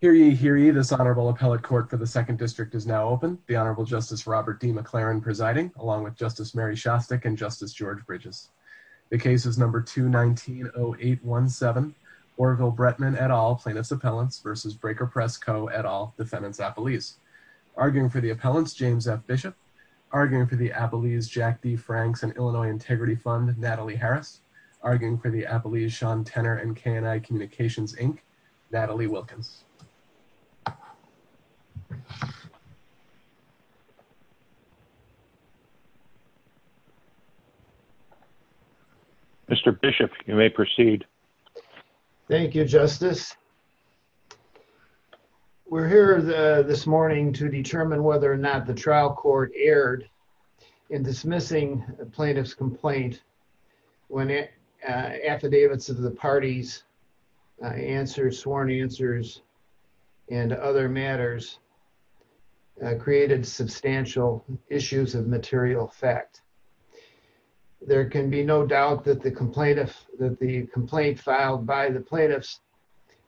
Hear ye, hear ye, this Honorable Appellate Court for the 2nd District is now open. The Honorable Justice Robert D. McLaren presiding, along with Justice Mary Shostak and Justice George Bridges. The case is No. 2-19-0817, Oroville-Bretman et al. plaintiffs' appellants v. Breaker Press Co. et al. defendants' appellees. Arguing for the appellants, James F. Bishop. Arguing for the appellees, Jack D. Franks and Illinois Integrity Fund, Natalie Harris. Arguing for the appellees, Sean Tenor and K&I Communications, Inc., Natalie Wilkins. Mr. Bishop, you may proceed. Thank you, Justice. We're here this morning to determine whether or not the trial court erred in dismissing plaintiff's complaint when affidavits of the parties' answers, sworn answers, and other matters created substantial issues of material effect. There can be no doubt that the complaint filed by the plaintiffs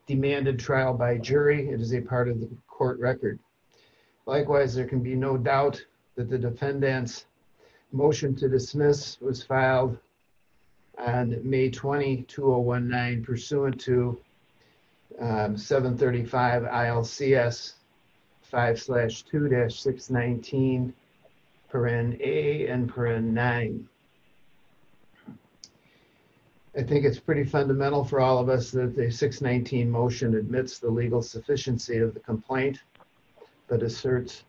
demanded trial by jury. It is a part of the court record. Likewise, there can be no doubt that the defendants' motion to dismiss was filed on May 20, 2019, pursuant to 735 ILCS 5-2-619, parent A and parent 9. I think it's pretty fundamental for all of us that the 619 motion admits the legal sufficiency of the complaint, but asserts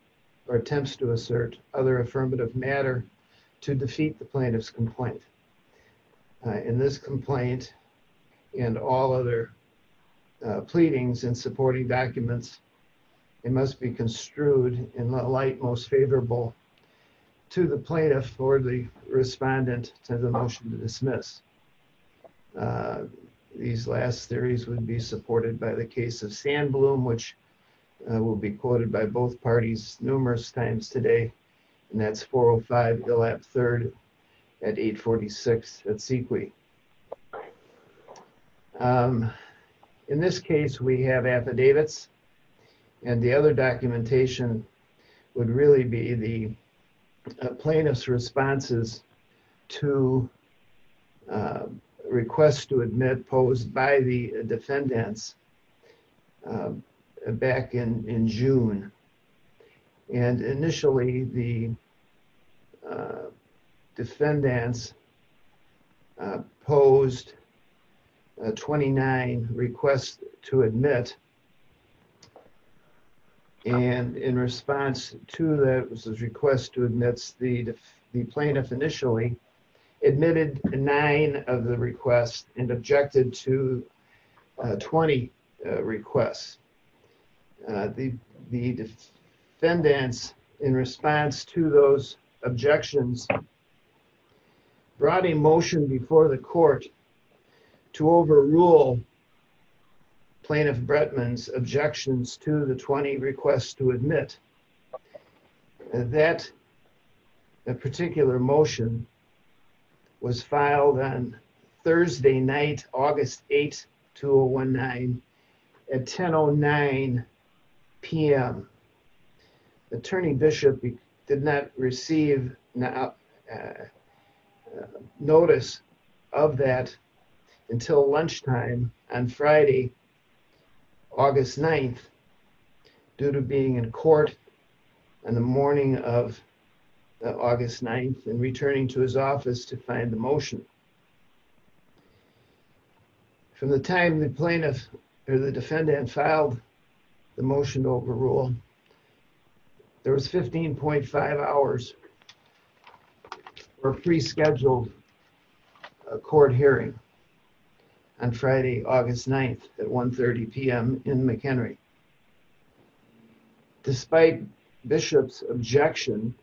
or attempts to assert other affirmative matter to defeat the plaintiff's complaint. In this complaint and all other pleadings and supporting documents, it must be construed in the light most favorable to the plaintiff or the respondent to the motion to dismiss. These last theories would be supported by the case of Sandbloom, which will be quoted by both parties numerous times today, and that's 405 Hill App 3rd at 846 at Sequoia. In this case, we have affidavits, and the other documentation would really be the plaintiff's two requests to admit posed by the defendants back in June. Initially, the defendants posed 29 requests to admit, and in response to those requests to admit, the plaintiff initially admitted nine of the requests and objected to 20 requests. The defendants, in response to those objections, brought a motion before the court to overrule plaintiff Bretman's objections to the 20 requests to admit. That particular motion was filed on Thursday night, August 8, 2019, at 1009 PM. The attorney bishop did not receive notice of that until lunchtime on Friday, August 9, due to being in court on the morning of August 9 and returning to his office to find the ruling. There was 15.5 hours for a pre-scheduled court hearing on Friday, August 9, at 1.30 PM in McHenry. Despite Bishop's objection,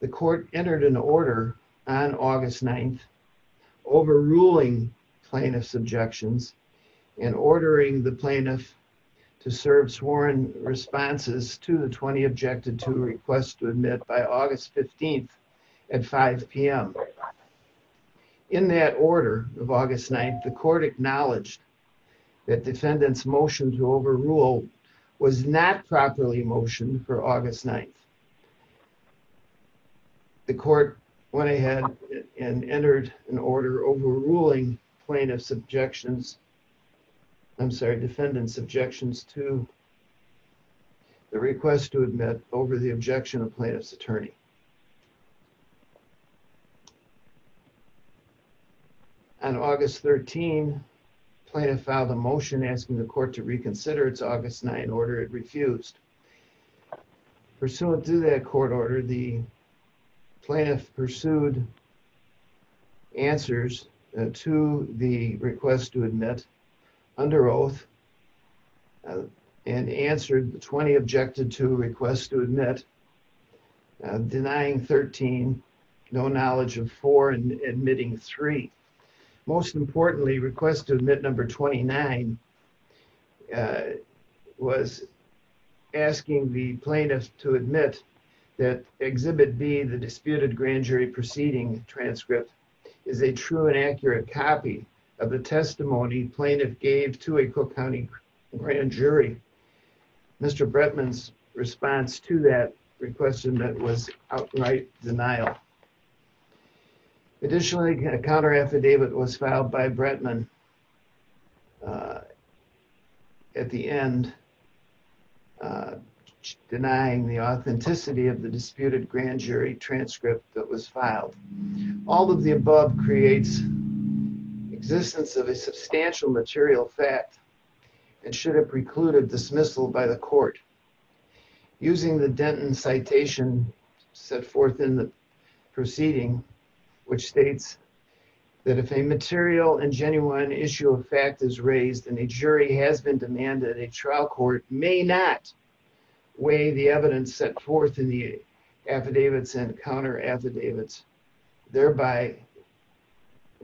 the court entered an order on August 9 overruling plaintiff's objections and ordering the plaintiff to serve sworn responses to the 20 objected to requests to admit by August 15 at 5 PM. In that order of August 9, the court acknowledged that defendant's motion to overrule was not properly motioned for August 9. The court went ahead and entered an order overruling plaintiff's objections, I'm sorry, defendant's objections to the request to admit over the objection of plaintiff's attorney. On August 13, plaintiff filed a motion asking the court to reconsider its August 9 order. It refused. Pursuant to that court order, the plaintiff pursued answers to the request to admit under oath and answered the 20 objected to requests to admit, denying 13, no knowledge of 4, and admitting 3. Most importantly, request to admit number 29 was asking the plaintiff to admit that Exhibit B, the disputed grand jury proceeding transcript, is a true and accurate copy of the testimony plaintiff gave to a Cook County grand jury. Mr. Bretman's response to that request to admit was outright denial. Additionally, a counter affidavit was filed by Bretman at the end, denying the authenticity of the disputed grand jury transcript that was filed. All of the above creates existence of a substantial material fact and should have precluded dismissal by the court. Using the Denton citation set forth in the proceeding, which states that if a material and genuine issue of fact is raised and a jury has been demanded, a trial court may not weigh the evidence set forth in the affidavits and counter affidavits, thereby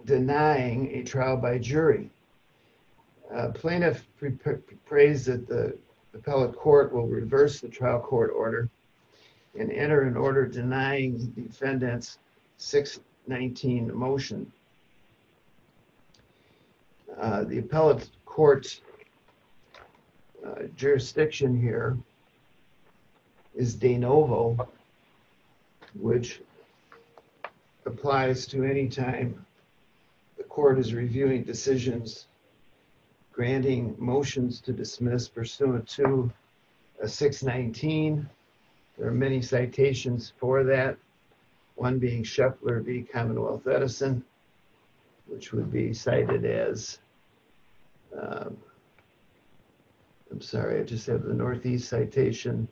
denying a trial by jury. Plaintiff proposed that the appellate court will reverse the trial court order and enter an order denying the defendant's 619 motion. The appellate court's jurisdiction here is de novo, which applies to any time the court is reviewing decisions, granting motions to dismiss pursuant to a 619. There are many citations for that, one being Scheffler v. Commonwealth Edison, which would be cited as, I'm sorry, I just have the Northeast citation,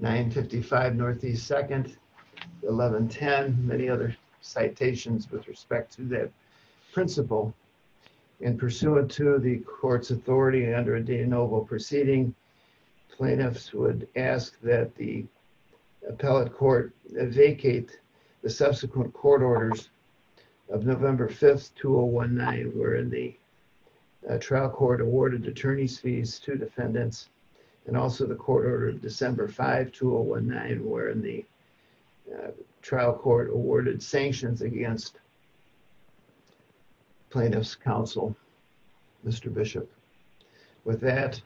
955 Northeast 2nd, 1110, many other citations with respect to that principle. And pursuant to the court's authority under a de novo proceeding, plaintiffs would ask that the appellate court vacate the subsequent court orders of November 5th, 2019, wherein the trial court awarded attorney's fees to defendants and also the court order of December 5th, 2019, wherein the trial court awarded sanctions against plaintiff's counsel, Mr. Bishop. With that,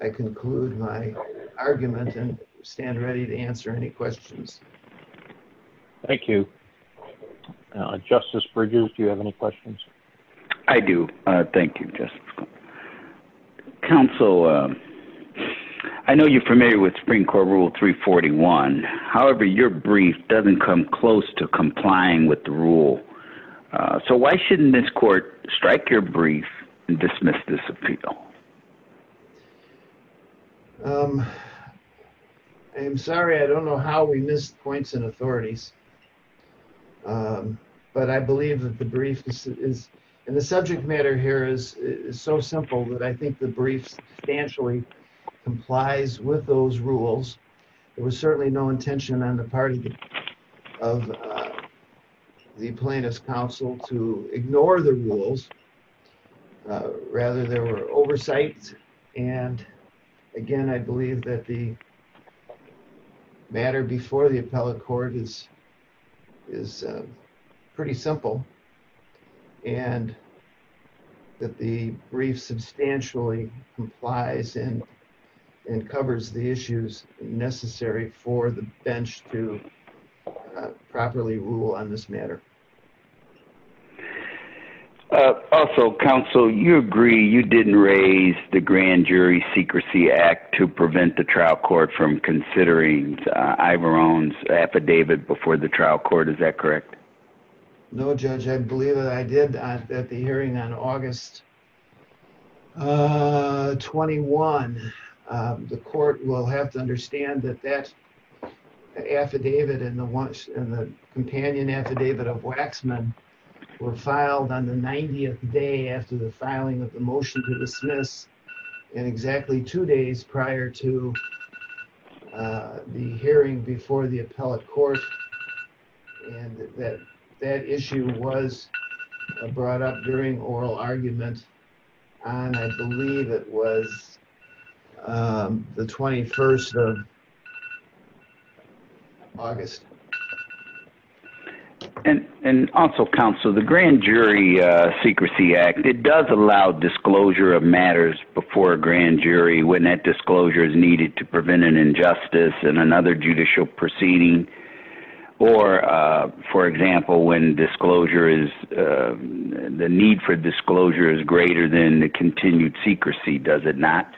I conclude my argument and stand ready to answer any questions. Thank you. Justice Bridges, do you have any questions? I do. Thank you, Justice. Counsel, I know you're familiar with Supreme Court Rule 341. However, your brief doesn't come close to complying with the rule. So why shouldn't this court strike your brief and dismiss this appeal? I'm sorry, I don't know how we missed points in authorities, but I believe that the brief is, and the subject matter here is so simple that I think the brief substantially complies with those rules. There was certainly no intention on the part of the plaintiff's counsel to ignore the rules. Rather, there were oversights. And again, I believe that the matter before the appellate court is pretty simple and that the brief substantially complies and covers the issues necessary for the bench to properly rule on this matter. Thank you. Also, counsel, you agree you didn't raise the Grand Jury Secrecy Act to prevent the trial court from considering Ivor Owens' affidavit before the trial court. Is that correct? No, Judge. I believe that I did at the hearing on August 21. The court will have to understand that that affidavit and the companion affidavit of Waxman were filed on the 90th day after the filing of the motion to dismiss, in exactly two days prior to the hearing before the appellate court. August. And also, counsel, the Grand Jury Secrecy Act, it does allow disclosure of matters before a grand jury when that disclosure is needed to prevent an injustice in another judicial proceeding. Or, for example, when the need for disclosure is greater than the continued secrecy, does it not?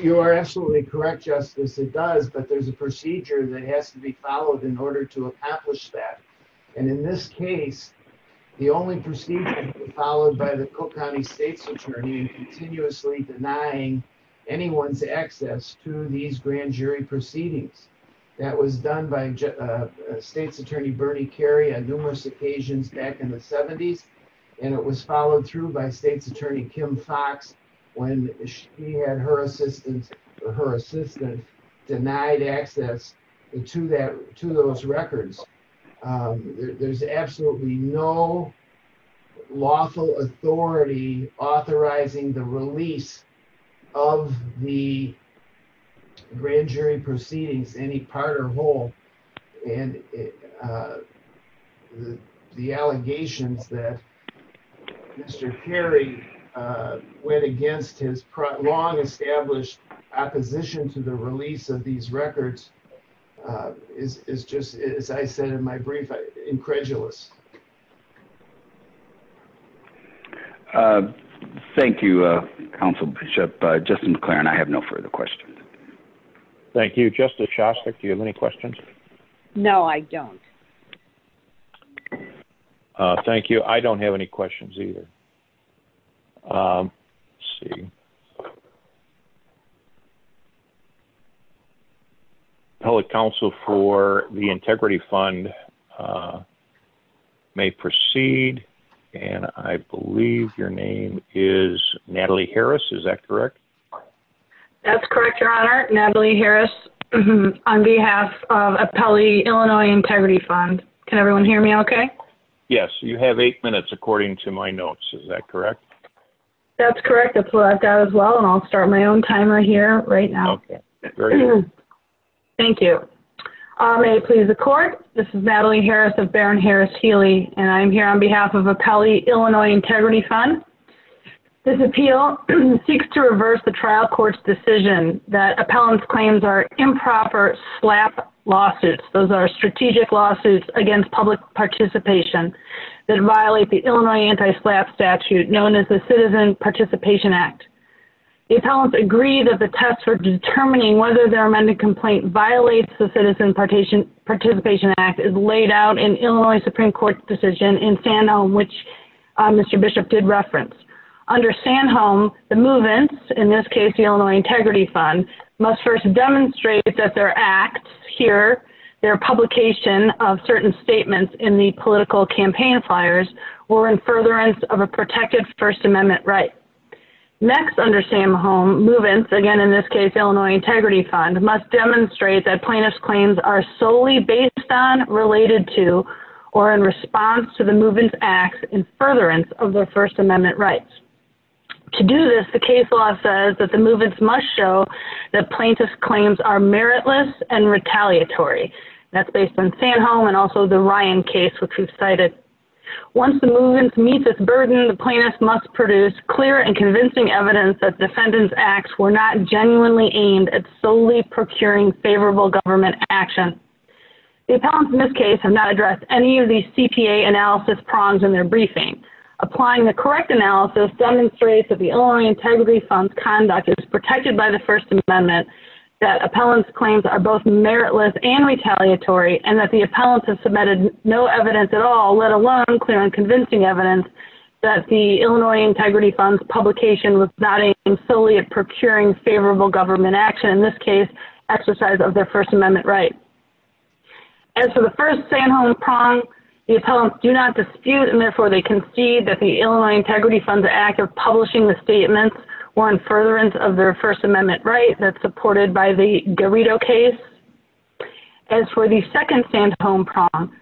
You are absolutely correct, Justice. It does, but there's a procedure that has to be followed in order to accomplish that. And in this case, the only procedure followed by the Cook County State's Attorney is continuously denying anyone's access to these grand jury proceedings. That was done by State's Attorney Bernie Kerry on numerous occasions back in the 70s, and it was followed through by State's Attorney Kim Foxx when she had her assistant denied access to those records. There's absolutely no lawful authority authorizing the release of the grand jury proceedings, any part or whole, and the allegations that Mr. Kerry went against his long-established opposition to the release of these records is just, as I said in my brief, incredulous. Thank you, Counsel Bishop. Justin McLaren, I have no further questions. Thank you. Justice Shostak, do you have any questions? No, I don't. Thank you. I don't have any questions either. Let's see. Appellate Counsel for the Integrity Fund may proceed, and I believe your name is That's correct, Your Honor. Natalie Harris on behalf of Appellate Illinois Integrity Fund. Can everyone hear me okay? Yes, you have eight minutes according to my notes. Is that correct? That's correct. That's what I've got as well, and I'll start my own timer here right now. Thank you. May it please the Court, this is Natalie Harris of Baron Harris Healy, and I'm here on behalf of Appellate Illinois Integrity Fund. This appeal seeks to reverse the trial court's decision that appellants' claims are improper SLAPP lawsuits. Those are strategic lawsuits against public participation that violate the Illinois Anti-SLAPP statute known as the Citizen Participation Act. The appellants agree that the test for determining whether their amended complaint violates the Citizen Participation Act is laid out in Illinois Supreme Court's decision in Sanholm, which Mr. Bishop did reference. Under Sanholm, the movants, in this case the Illinois Integrity Fund, must first demonstrate that their acts here, their publication of certain statements in the political campaign flyers, were in furtherance of a protected First Amendment right. Next under Sanholm, movants, again in this case Illinois Integrity Fund, must demonstrate that plaintiffs' claims are solely based on, related to, or in response to the movants' acts in furtherance of their First Amendment rights. To do this, the case law says that the movants must show that plaintiffs' claims are meritless and retaliatory. That's based on Sanholm and also the Ryan case which we've cited. Once the movants meet this burden, the plaintiffs must produce clear and convincing evidence that defendants' acts were not genuinely aimed at procuring favorable government action. The appellants in this case have not addressed any of these CPA analysis prongs in their briefing. Applying the correct analysis demonstrates that the Illinois Integrity Fund's conduct is protected by the First Amendment, that appellants' claims are both meritless and retaliatory, and that the appellants have submitted no evidence at all, let alone clear and convincing evidence, that the Illinois Integrity Fund's publication was not an affiliate procuring favorable government action, in this case, exercise of their First Amendment right. As for the first Sanholm prong, the appellants do not dispute and therefore they concede that the Illinois Integrity Fund's act of publishing the statements were in furtherance of their First Amendment right that's supported by the Garrido case. As for the second Sanholm prong,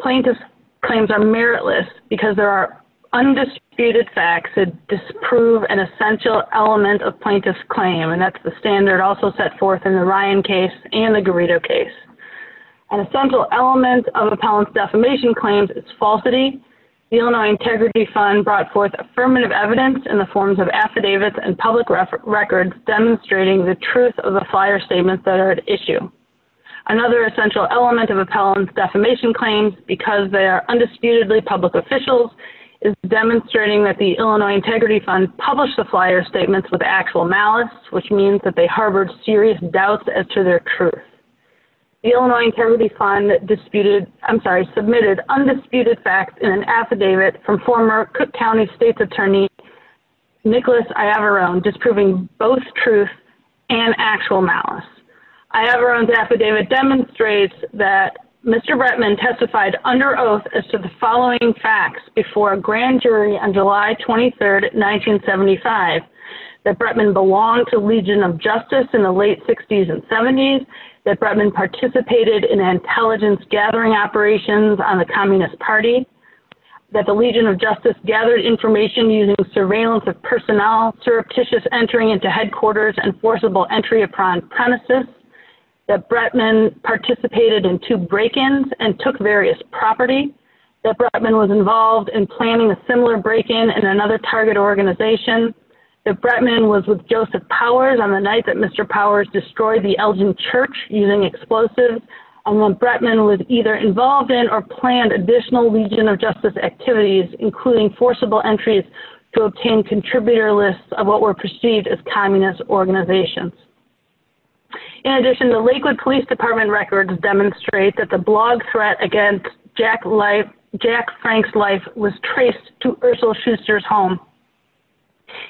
plaintiffs' claims are meritless because there are undisputed facts that disprove an essential element of plaintiffs' claim, and that's the standard also set forth in the Ryan case and the Garrido case. An essential element of appellants' defamation claims is falsity. The Illinois Integrity Fund brought forth affirmative evidence in the forms of affidavits and public records demonstrating the truth of the fire statements that are at issue. Another essential element of appellants' defamation claims, because they are undisputedly public officials, is demonstrating that the Illinois Integrity Fund published the flyer statements with actual malice, which means that they harbored serious doubts as to their truth. The Illinois Integrity Fund disputed, I'm sorry, submitted undisputed facts in an affidavit from former Cook County State's Attorney, Nicholas Iavarone, disproving both truth and actual malice. Iavarone's affidavit demonstrates that Mr. Bretman testified under oath as to the following facts before a grand jury on July 23, 1975, that Bretman belonged to Legion of Justice in the late 60s and 70s, that Bretman participated in intelligence gathering operations on the Communist Party, that the Legion of Justice gathered information using surveillance of personnel, surreptitious entering into headquarters and forcible entry upon premises, that Bretman participated in two break-ins and took various property, that Bretman was involved in planning a similar break-in in another target organization, that Bretman was with Joseph Powers on the night that Mr. Powers destroyed the Elgin Church using explosives, and when Bretman was either involved in or planned additional Legion of Justice activities, including forcible entries to obtain contributor lists of what were perceived as Communist organizations. In addition, the Lakewood Police Department records demonstrate that the blog threat against Jack Frank's life was traced to Ursula Schuster's home.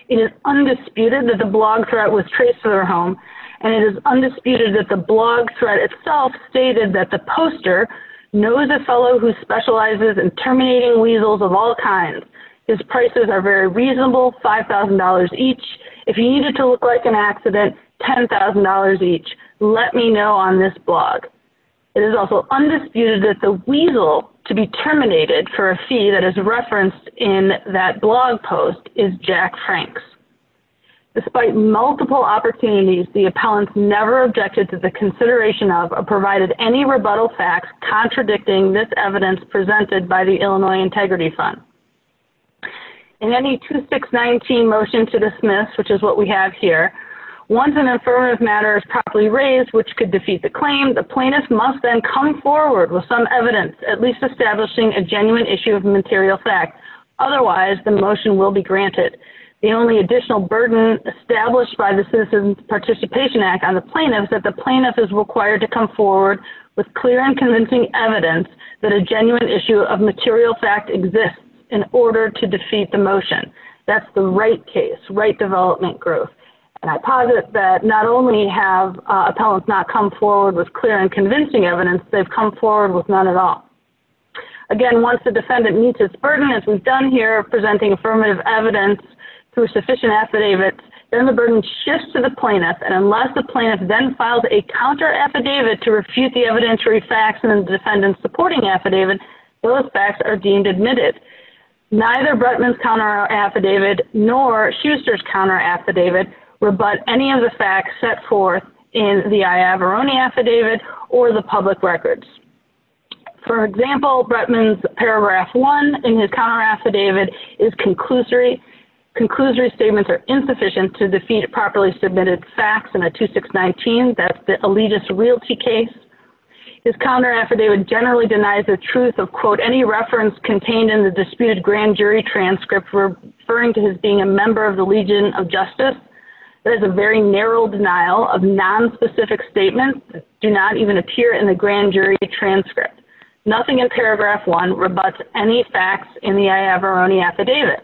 It is undisputed that the blog threat was traced to their home, and it is undisputed that the blog threat itself stated that the poster knows a fellow who specializes in terminating weasels of all kinds. His prices are very reasonable, $5,000 each. If he needed to look like an accident, $10,000 each. Let me know on this blog. It is also undisputed that the weasel to be terminated for a fee that is referenced in that blog post is Jack Frank's. Despite multiple opportunities, the appellants never objected to the consideration of or provided any rebuttal facts contradicting this evidence presented by the Illinois Integrity Fund. In any 2619 motion to dismiss, which is what we have here, once an affirmative matter is properly raised, which could defeat the claim, the plaintiff must then come forward with some evidence, at least establishing a genuine issue of material fact. Otherwise, the motion will be granted. The only additional burden established by the Citizens Participation Act on the plaintiff is required to come forward with clear and convincing evidence that a genuine issue of material fact exists in order to defeat the motion. That is the right case, right development group. I posit that not only have appellants not come forward with clear and convincing evidence, they have come forward with none at all. Again, once the defendant meets his burden, as we have done here, presenting affirmative evidence through sufficient affidavits, then the burden shifts to the plaintiff, and unless the plaintiff then files a counter-affidavit to refute the evidentiary facts in the defendant's supporting affidavit, those facts are deemed admitted. Neither Bretman's counter-affidavit nor Schuster's counter-affidavit rebut any of the facts set forth in the I. Averroni affidavit or the public records. For example, Bretman's counter-affidavit generally denies the truth of, quote, any reference contained in the disputed grand jury transcript referring to his being a member of the Legion of Justice. That is a very narrow denial of nonspecific statements that do not even appear in the grand jury transcript. Nothing in paragraph one rebuts any facts in the I. Averroni affidavit.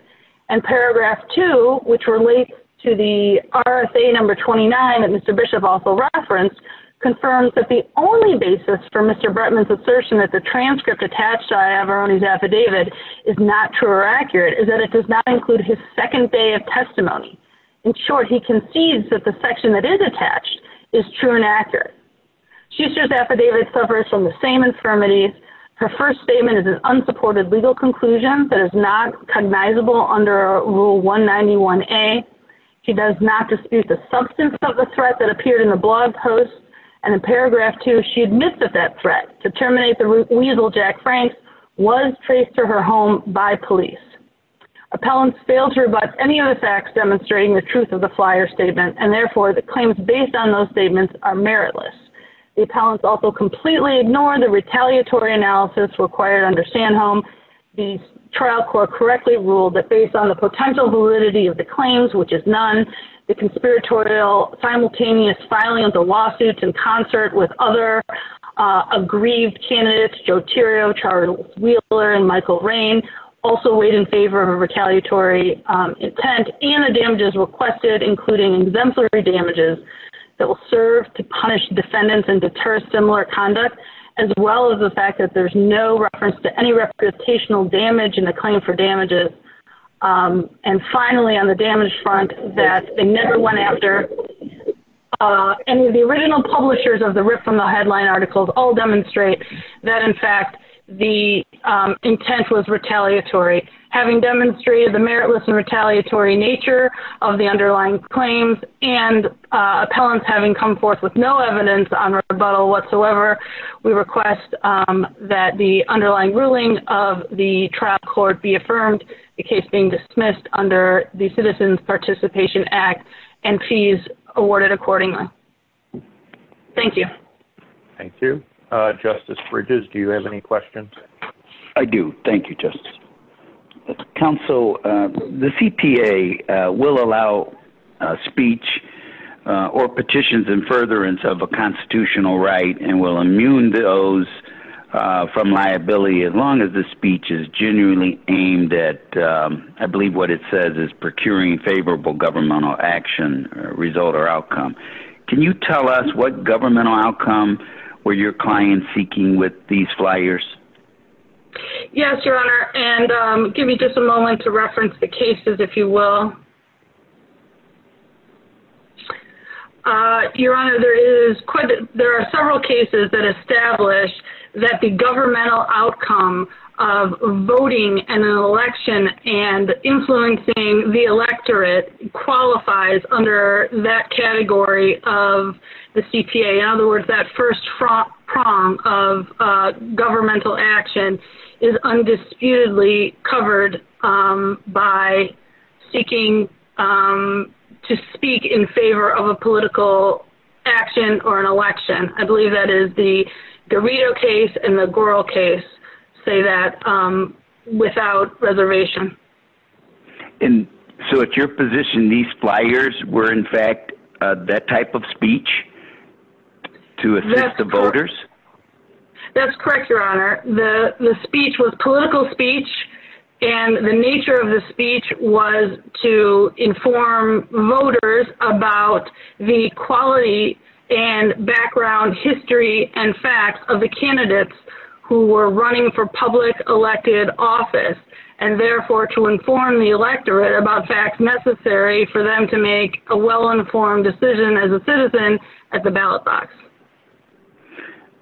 And paragraph two, which relates to the RFA number 29 that Mr. Bishop also referenced, confirms that the only basis for Mr. Bretman's assertion that the transcript attached to I. Averroni's affidavit is not true or accurate is that it does not include his second day of testimony. In short, he concedes that the section that is attached is true and accurate. Schuster's affidavit suffers from the same infirmities. Her first statement is an unsupported legal conclusion that is not cognizable under rule 191A. She does not dispute the substance of the threat that appeared in the blog post. And in paragraph two, she admits that that threat to terminate the weasel, Jack Franks, was traced to her home by police. Appellants fail to rebut any of the facts demonstrating the truth of the flyer statement, and therefore the claims based on those statements are meritless. The appellants also completely ignore the retaliatory analysis required under Sandhome. The trial court correctly ruled that based on the potential validity of the claims, which is none, the conspiratorial simultaneous filing of the lawsuits in concert with other aggrieved candidates, Joe Tirio, Charles Wheeler, and Michael Rain, also weighed in favor of a retaliatory intent and the damages requested, including exemplary damages that will serve to punish defendants and deter similar conduct, as well as the fact that there's no reference to any reputational damage in the claim for damages. And finally, on the damage front that they never went after, any of the original publishers of the RIP from the headline articles all demonstrate that, in fact, the intent was retaliatory. Having demonstrated the meritless and retaliatory nature of the underlying claims and appellants having come forth with no evidence on rebuttal whatsoever, we request that the underlying ruling of the trial court be affirmed, the case being dismissed under the Citizens Participation Act and fees awarded accordingly. Thank you. Thank you. Justice Bridges, do you have any questions? I do. Thank you, Justice. Counsel, the CPA will allow speech or petitions and furtherance of a constitutional right and will immune those from liability as long as the speech is genuinely aimed at, I believe what it says is procuring favorable governmental action result or outcome. Can you tell us what governmental outcome were your clients seeking with these flyers? Yes, Your Honor, and give me just a moment to reference the cases, if you will. Your Honor, there is quite, there are several cases that establish that the governmental outcome of voting in an election and influencing the electorate qualifies under that category of the CPA. In other words, that first front prong of governmental action is undisputedly covered by seeking to speak in favor of a political action or an election. I believe that is the Dorito case and the Goral case say that without reservation. So at your position, these flyers were in fact that type of speech to assist the voters? That's correct, Your Honor. The speech was political speech and the nature of the speech was to inform voters about the quality and background history and facts of the candidates who were running for public elected office and therefore to inform the electorate about facts necessary for them to make a well-informed decision as a citizen at the ballot box.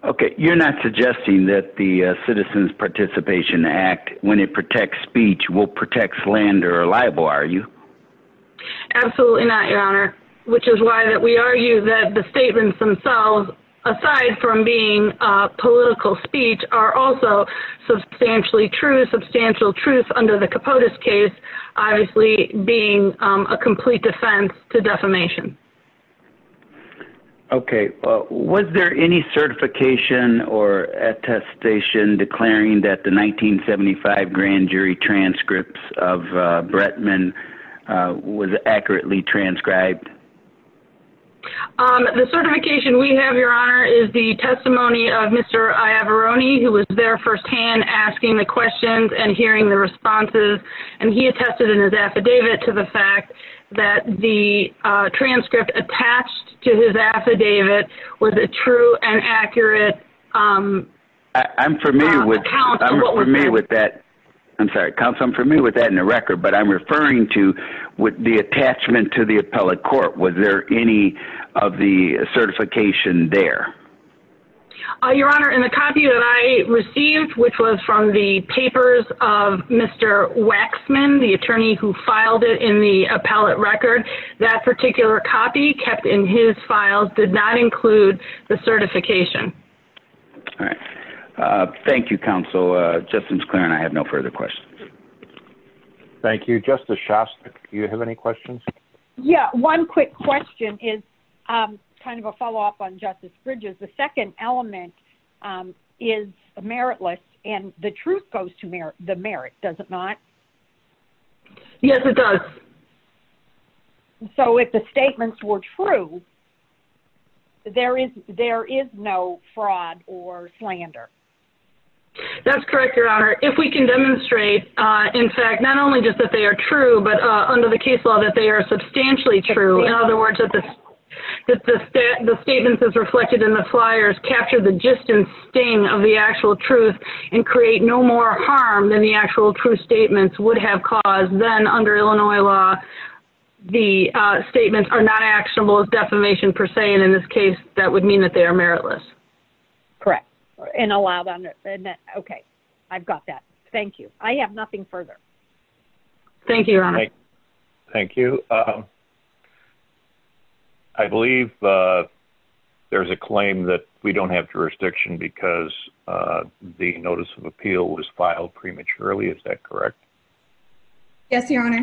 Okay, you're not suggesting that the Citizens Participation Act, when it protects speech, will protect slander or libel, are you? Absolutely not, Your Honor, which is why we argue that the statements themselves, aside from being political speech, are also substantially true, substantial truth under the Capotes case, obviously being a complete defense to defamation. Okay, was there any certification or attestation declaring that the 1975 grand jury transcripts of Brettman was accurately transcribed? The certification we have, Your Honor, is the testimony of Mr. Iavarone, who was there firsthand asking the questions and hearing the responses, and he attested in his affidavit to the fact that the transcript attached to his affidavit was a true and accurate account. I'm familiar with that. I'm sorry, counsel, I'm familiar with that in the record, but I'm referring to the attachment to the appellate court. Was there any of the certification there? Your Honor, in the copy that I received, which was from the papers of Mr. Waxman, the attorney who filed it in the appellate record, that particular copy kept in his files did not include the certification. All right, thank you, counsel. Justice Claren, I have no further questions. Thank you. Justice Shostak, do you have any questions? Yeah, one quick question is kind of a follow-up on Justice Bridges. The second element is meritless, and the truth goes to the merit, does it not? Yes, it does. And so if the statements were true, there is no fraud or slander? That's correct, Your Honor. If we can demonstrate, in fact, not only just that they are true, but under the case law that they are substantially true, in other words, that the statements as reflected in the flyers capture the gist and sting of the actual truth and create no more harm than the actual true statements would have caused then under Illinois law, the statements are not actionable as defamation per se, and in this case, that would mean that they are meritless. Correct, and allowed under, okay, I've got that. Thank you. I have nothing further. Thank you, Your Honor. Thank you. I believe there's a claim that we don't have jurisdiction because the notice of appeal was filed prematurely, is that correct? Yes, Your Honor.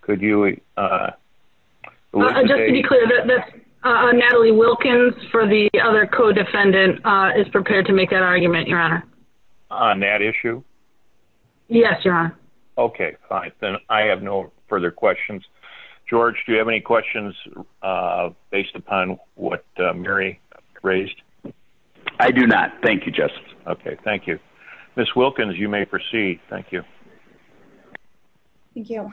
Could you... Just to be clear, Natalie Wilkins for the other co-defendant is prepared to make that argument, Your Honor. On that issue? Yes, Your Honor. Okay, fine, then I have no further questions. George, do you have any questions based upon what Mary raised? I do not. Thank you, Justice. Okay, thank you. Ms. Wilkins, you may proceed. Thank you. Thank you.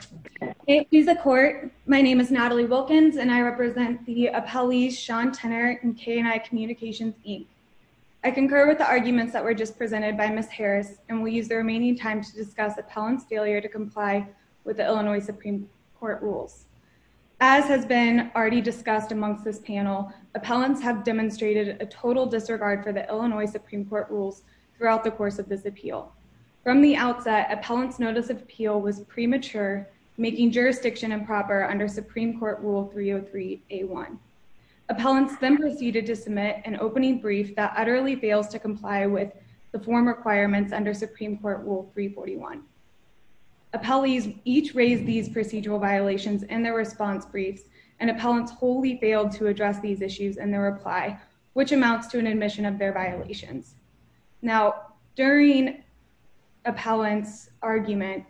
In the court, my name is Natalie Wilkins, and I represent the appellee Sean Tenner in K&I Communications Inc. I concur with the arguments that were just presented by Ms. Harris, and we use the remaining time to discuss appellant's failure to comply with the Illinois Supreme Court rules. As has been already discussed amongst this panel, appellants have demonstrated a total disregard for the Illinois Supreme Court rules throughout the course of this appeal. From the outset, appellant's notice of appeal was premature, making jurisdiction improper under Supreme Court Rule 303A1. Appellants then proceeded to submit an opening brief that utterly fails to comply with the form requirements under Supreme Court Rule 341. Appellees each raised these procedural violations in their response briefs, and appellants wholly failed to address these issues in their reply, which amounts to an admission of their violations. Now, during appellant's argument,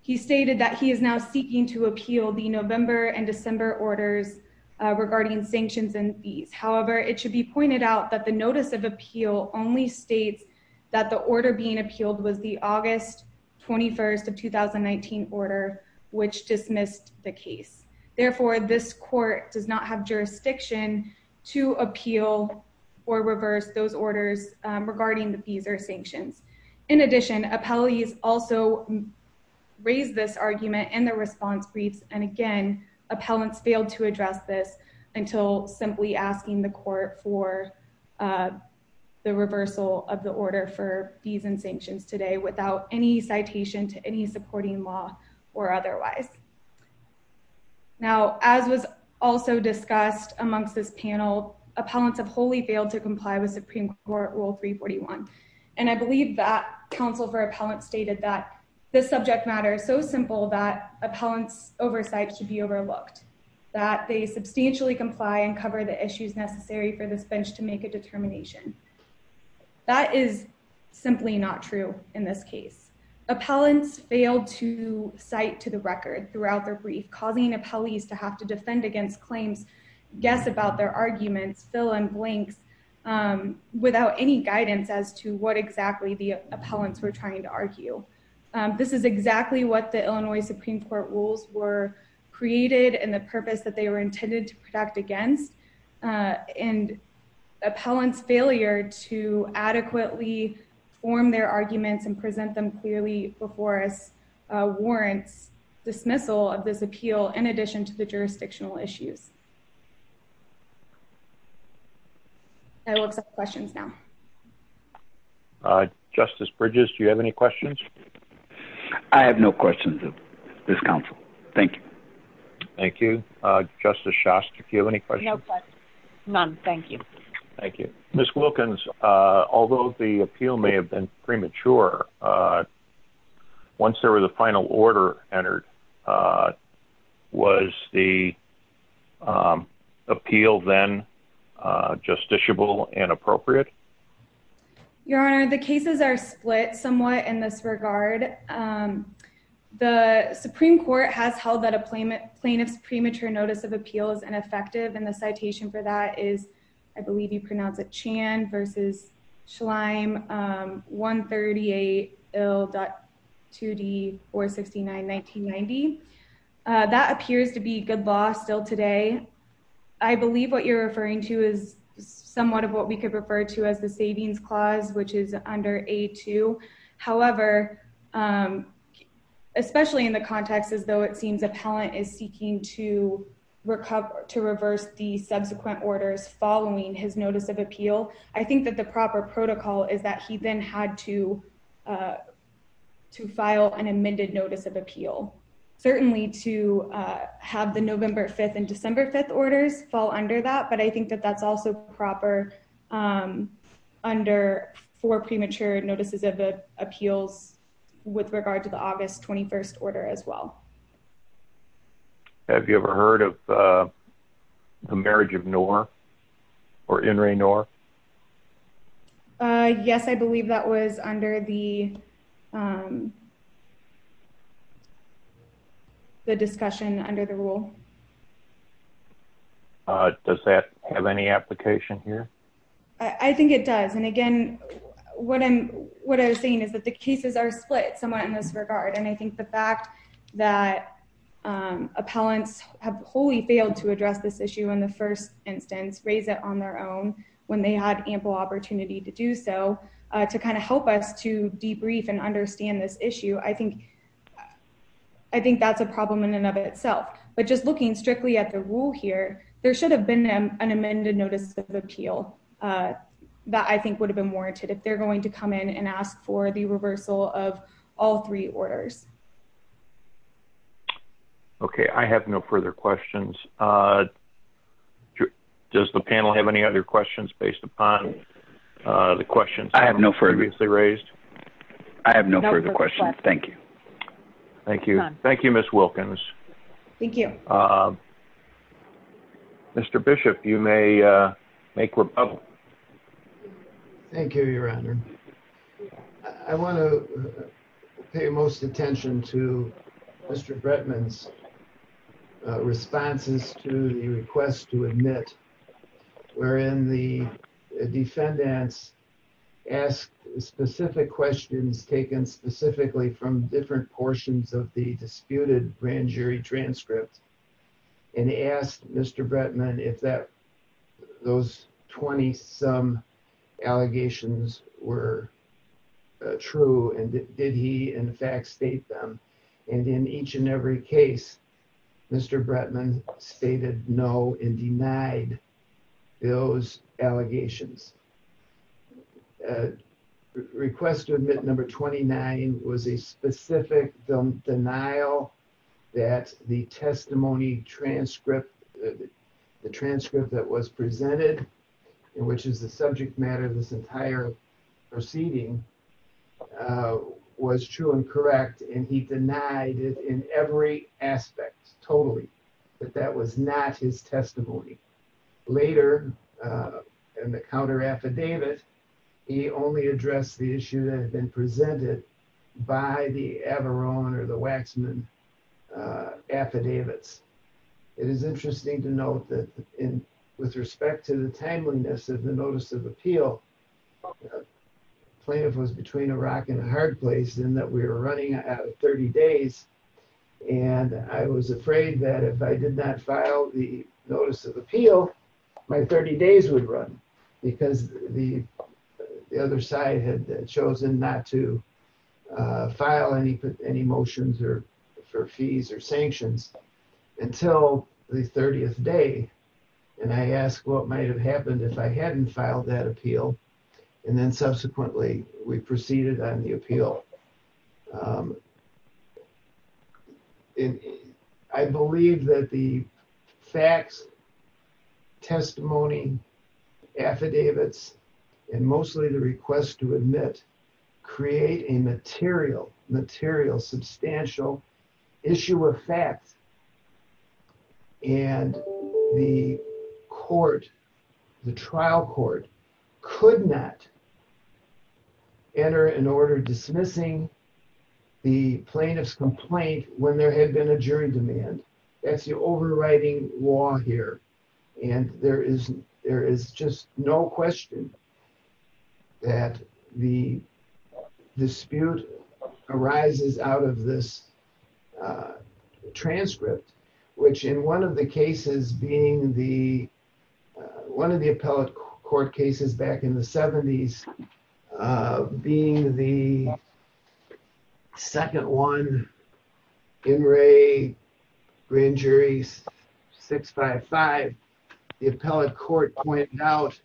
he stated that he is now seeking to appeal the November and December orders regarding sanctions and fees. However, it should be pointed out that the notice of appeal only states that the order does not have jurisdiction to appeal or reverse those orders regarding the fees or sanctions. In addition, appellees also raised this argument in their response briefs, and again, appellants failed to address this until simply asking the court for the reversal of the order for fees and sanctions today without any citation to any supporting law or otherwise. Now, as was also discussed amongst this panel, appellants have wholly failed to comply with Supreme Court Rule 341, and I believe that counsel for appellant stated that this subject matter is so simple that appellant's oversight should be overlooked, that they substantially comply and cover the issues necessary for this bench to make a determination. That is simply not true in this case. Appellants failed to cite to the record throughout their brief, causing appellees to have to defend against claims, guess about their arguments, fill in blanks without any guidance as to what exactly the appellants were trying to argue. This is exactly what the Illinois Supreme Court rules were created and the purpose that they were intended to adequately form their arguments and present them clearly before us warrants dismissal of this appeal in addition to the jurisdictional issues. I will accept questions now. Justice Bridges, do you have any questions? I have no questions of this counsel. Thank you. Thank you. Justice Shast, do you have any questions? No questions. None. Thank you. Thank you. Ms. Wilkins, although the appeal may have been premature, once there was a final order entered, was the appeal then justiciable and appropriate? Your Honor, the cases are split somewhat in this regard. The Supreme Court has held that plaintiff's premature notice of appeal is ineffective, and the citation for that is, I believe you pronounce it Chan v. Schleim, 138 Ill.2D 469-1990. That appears to be good law still today. I believe what you're referring to is somewhat of what we could refer to as the savings clause, which is under A2. However, especially in the context as though it seems appellant is seeking to reverse the subsequent orders following his notice of appeal, I think that the proper protocol is that he then had to file an amended notice of appeal. Certainly to have the November 5th and December 5th orders fall under that, but I think that that's also proper under four premature notices of appeals with regard to the August 21st order as well. Have you ever heard of the marriage of North or Henry North? Yes, I believe that was under the discussion under the rule. Does that have any application here? I think it does, and again, what I'm saying is that the cases are split somewhat in this regard, and I think the fact that appellants have wholly failed to address this issue in the first instance, raise it on their own when they had ample opportunity to do so, to kind of help us to debrief and understand this issue, I think that's a problem in and of itself. But just an amended notice of appeal, that I think would have been warranted if they're going to come in and ask for the reversal of all three orders. Okay, I have no further questions. Does the panel have any other questions based upon the questions previously raised? I have no further questions. Thank you. Thank you. Thank you, Ms. Wilkins. Thank you. Mr. Bishop, you may make rebuttal. Thank you, Your Honor. I want to pay most attention to Mr. Bretman's responses to the request to admit, wherein the defendants asked specific questions taken specifically from different portions of the disputed grand jury transcript, and asked Mr. Bretman if those 20-some allegations were true, and did he in fact state in each and every case, Mr. Bretman stated no and denied those allegations. Request to admit number 29 was a specific denial that the testimony transcript, the transcript that was presented, which is the subject matter of this entire proceeding, was true and correct, and he denied it in every aspect, totally, but that was not his testimony. Later, in the counter affidavit, he only addressed the issue that had been presented by the Averron or the Waxman affidavits. It is interesting to note that with respect to the timeliness of the notice of appeal, plaintiff was between a rock and a hard place in that we were running out of 30 days, and I was afraid that if I did not file the notice of appeal, my 30 days would run, because the other side had chosen not to file any motions for fees or if I hadn't filed that appeal, and then subsequently we proceeded on the appeal. I believe that the facts, testimony, affidavits, and mostly the request to admit create a material, substantial issue of facts, and the court, the trial court, could not enter an order dismissing the plaintiff's complaint when there had been a jury demand. That's the overriding law here, and there is just no question that the dispute arises out of this transcript, which in one of the cases being the one of the appellate court cases back in the 70s, being the second one, In re Grand Jury 655, the appellate court pointed out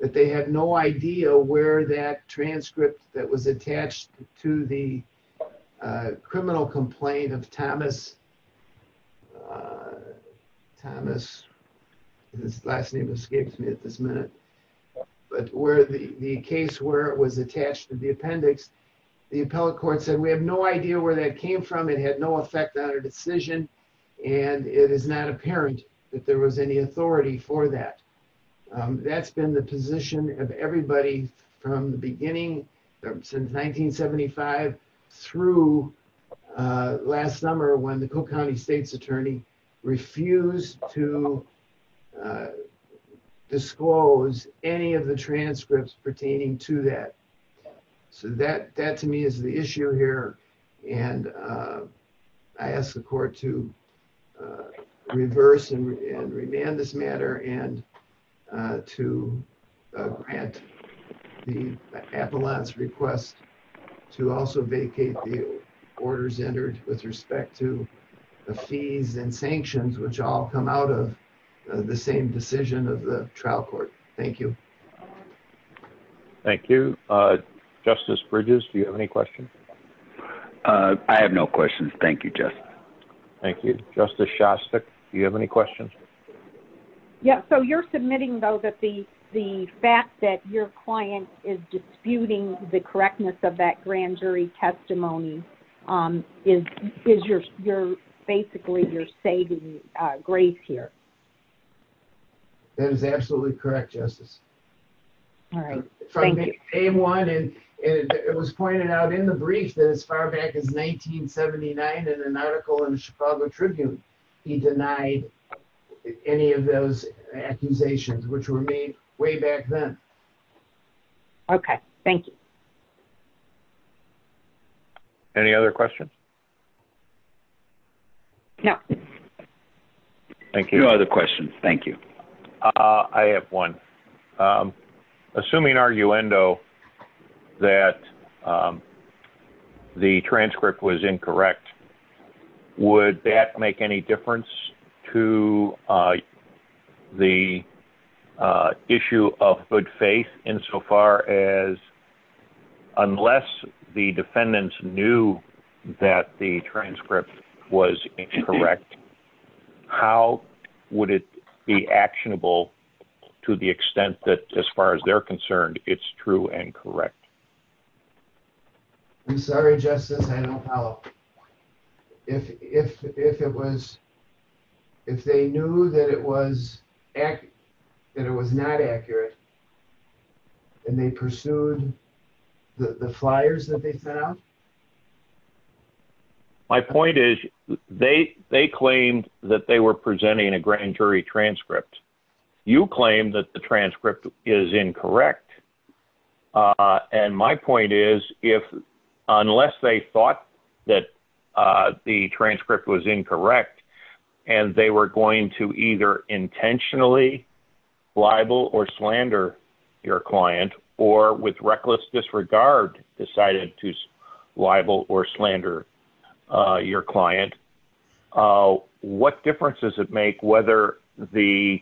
that they had no idea where that transcript that was attached to the criminal complaint of Thomas, Thomas, his last name escapes me at this minute, but where the case where it was attached to the appendix, the appellate court said we have no idea where that came from, it had no effect on our decision, and it is not apparent that there was any authority for that. That's been the position of everybody from the beginning since 1975 through last summer when the Cook County state's attorney refused to disclose any of the transcripts pertaining to that. So that to me is the issue here, and I ask the court to reverse and remand this matter and to grant the appellant's request to also vacate the orders entered with respect to the fees and sanctions which all come out of the same decision of the trial court. Thank you. Thank you. Justice Bridges, do you have any questions? I have no questions. Thank you, Justice. Thank you. Justice Shostak, do you have any questions? Yeah, so you're submitting though that the fact that your client is disputing the correctness of that grand jury testimony is basically you're saving grace here. That is absolutely correct, Justice. All right, thank you. It was pointed out in the brief that as far back as 1979 in an article in the Chicago Tribune, he denied any of those accusations which were made way back then. Okay, thank you. Any other questions? No. Thank you. No other questions. Thank you. I have one. Assuming arguendo that the transcript was incorrect, would that make any difference to the issue of good faith insofar as unless the defendants knew that the transcript was incorrect, how would it be actionable to the extent that as far as they're concerned it's true and correct? I'm sorry, Justice. I don't know. If they knew that it was not accurate and they pursued the flyers that they sent out? My point is they claimed that they were presenting a grand jury transcript. You claim that the transcript is incorrect. My point is unless they thought that the transcript was incorrect and they were going to either intentionally libel or slander your client or with reckless disregard decided to libel or slander your client, what difference does it make whether the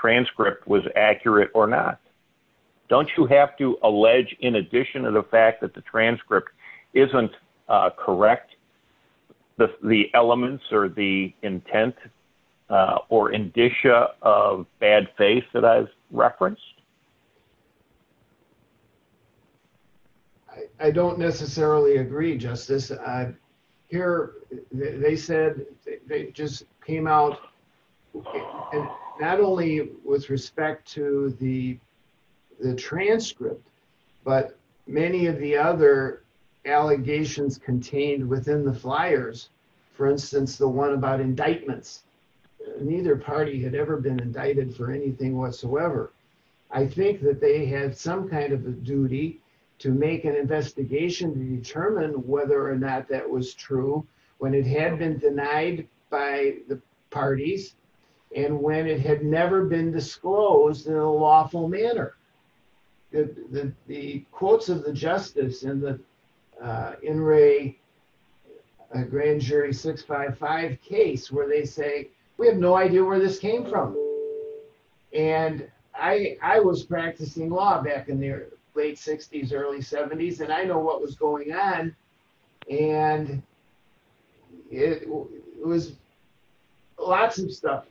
transcript was accurate or not? Don't you have to allege in addition to the fact that the transcript isn't correct the elements or the intent or indicia of bad faith that I've referenced? I don't necessarily agree, Justice. They said they just came out not only with respect to the transcript, but many of the other allegations contained within the flyers, for instance, the one about indictments. Neither party had ever been indicted for anything whatsoever. I think that they had some kind of a duty to make an investigation to determine whether or not that was true when it had been denied by the parties and when it had never been disclosed in a lawful manner. The quotes of the justice in the In re Grand Jury 655 case where they say, we have no idea where this came from. I was practicing law back in the late 60s, early 70s, and I know what was going on. Lots of stuff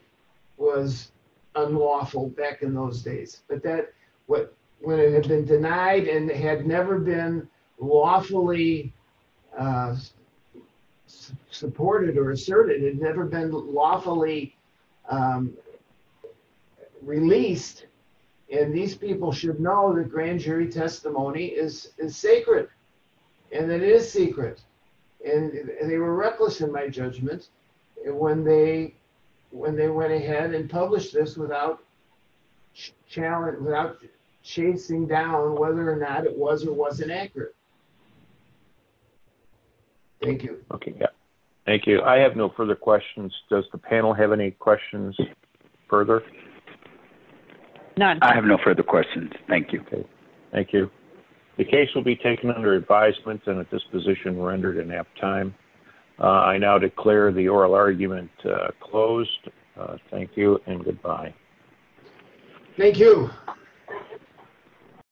was unlawful back in those days. When it had been unlawfully released, and these people should know the Grand Jury testimony is sacred, and it is secret. They were reckless in my judgment when they went ahead and published this without chasing down whether or not it was or wasn't accurate. Thank you. Thank you. I have no further questions. Does the panel have any questions further? I have no further questions. Thank you. Thank you. The case will be taken under advisement and at this position rendered in at time. I now declare the oral argument closed. Thank you and goodbye. Thank you.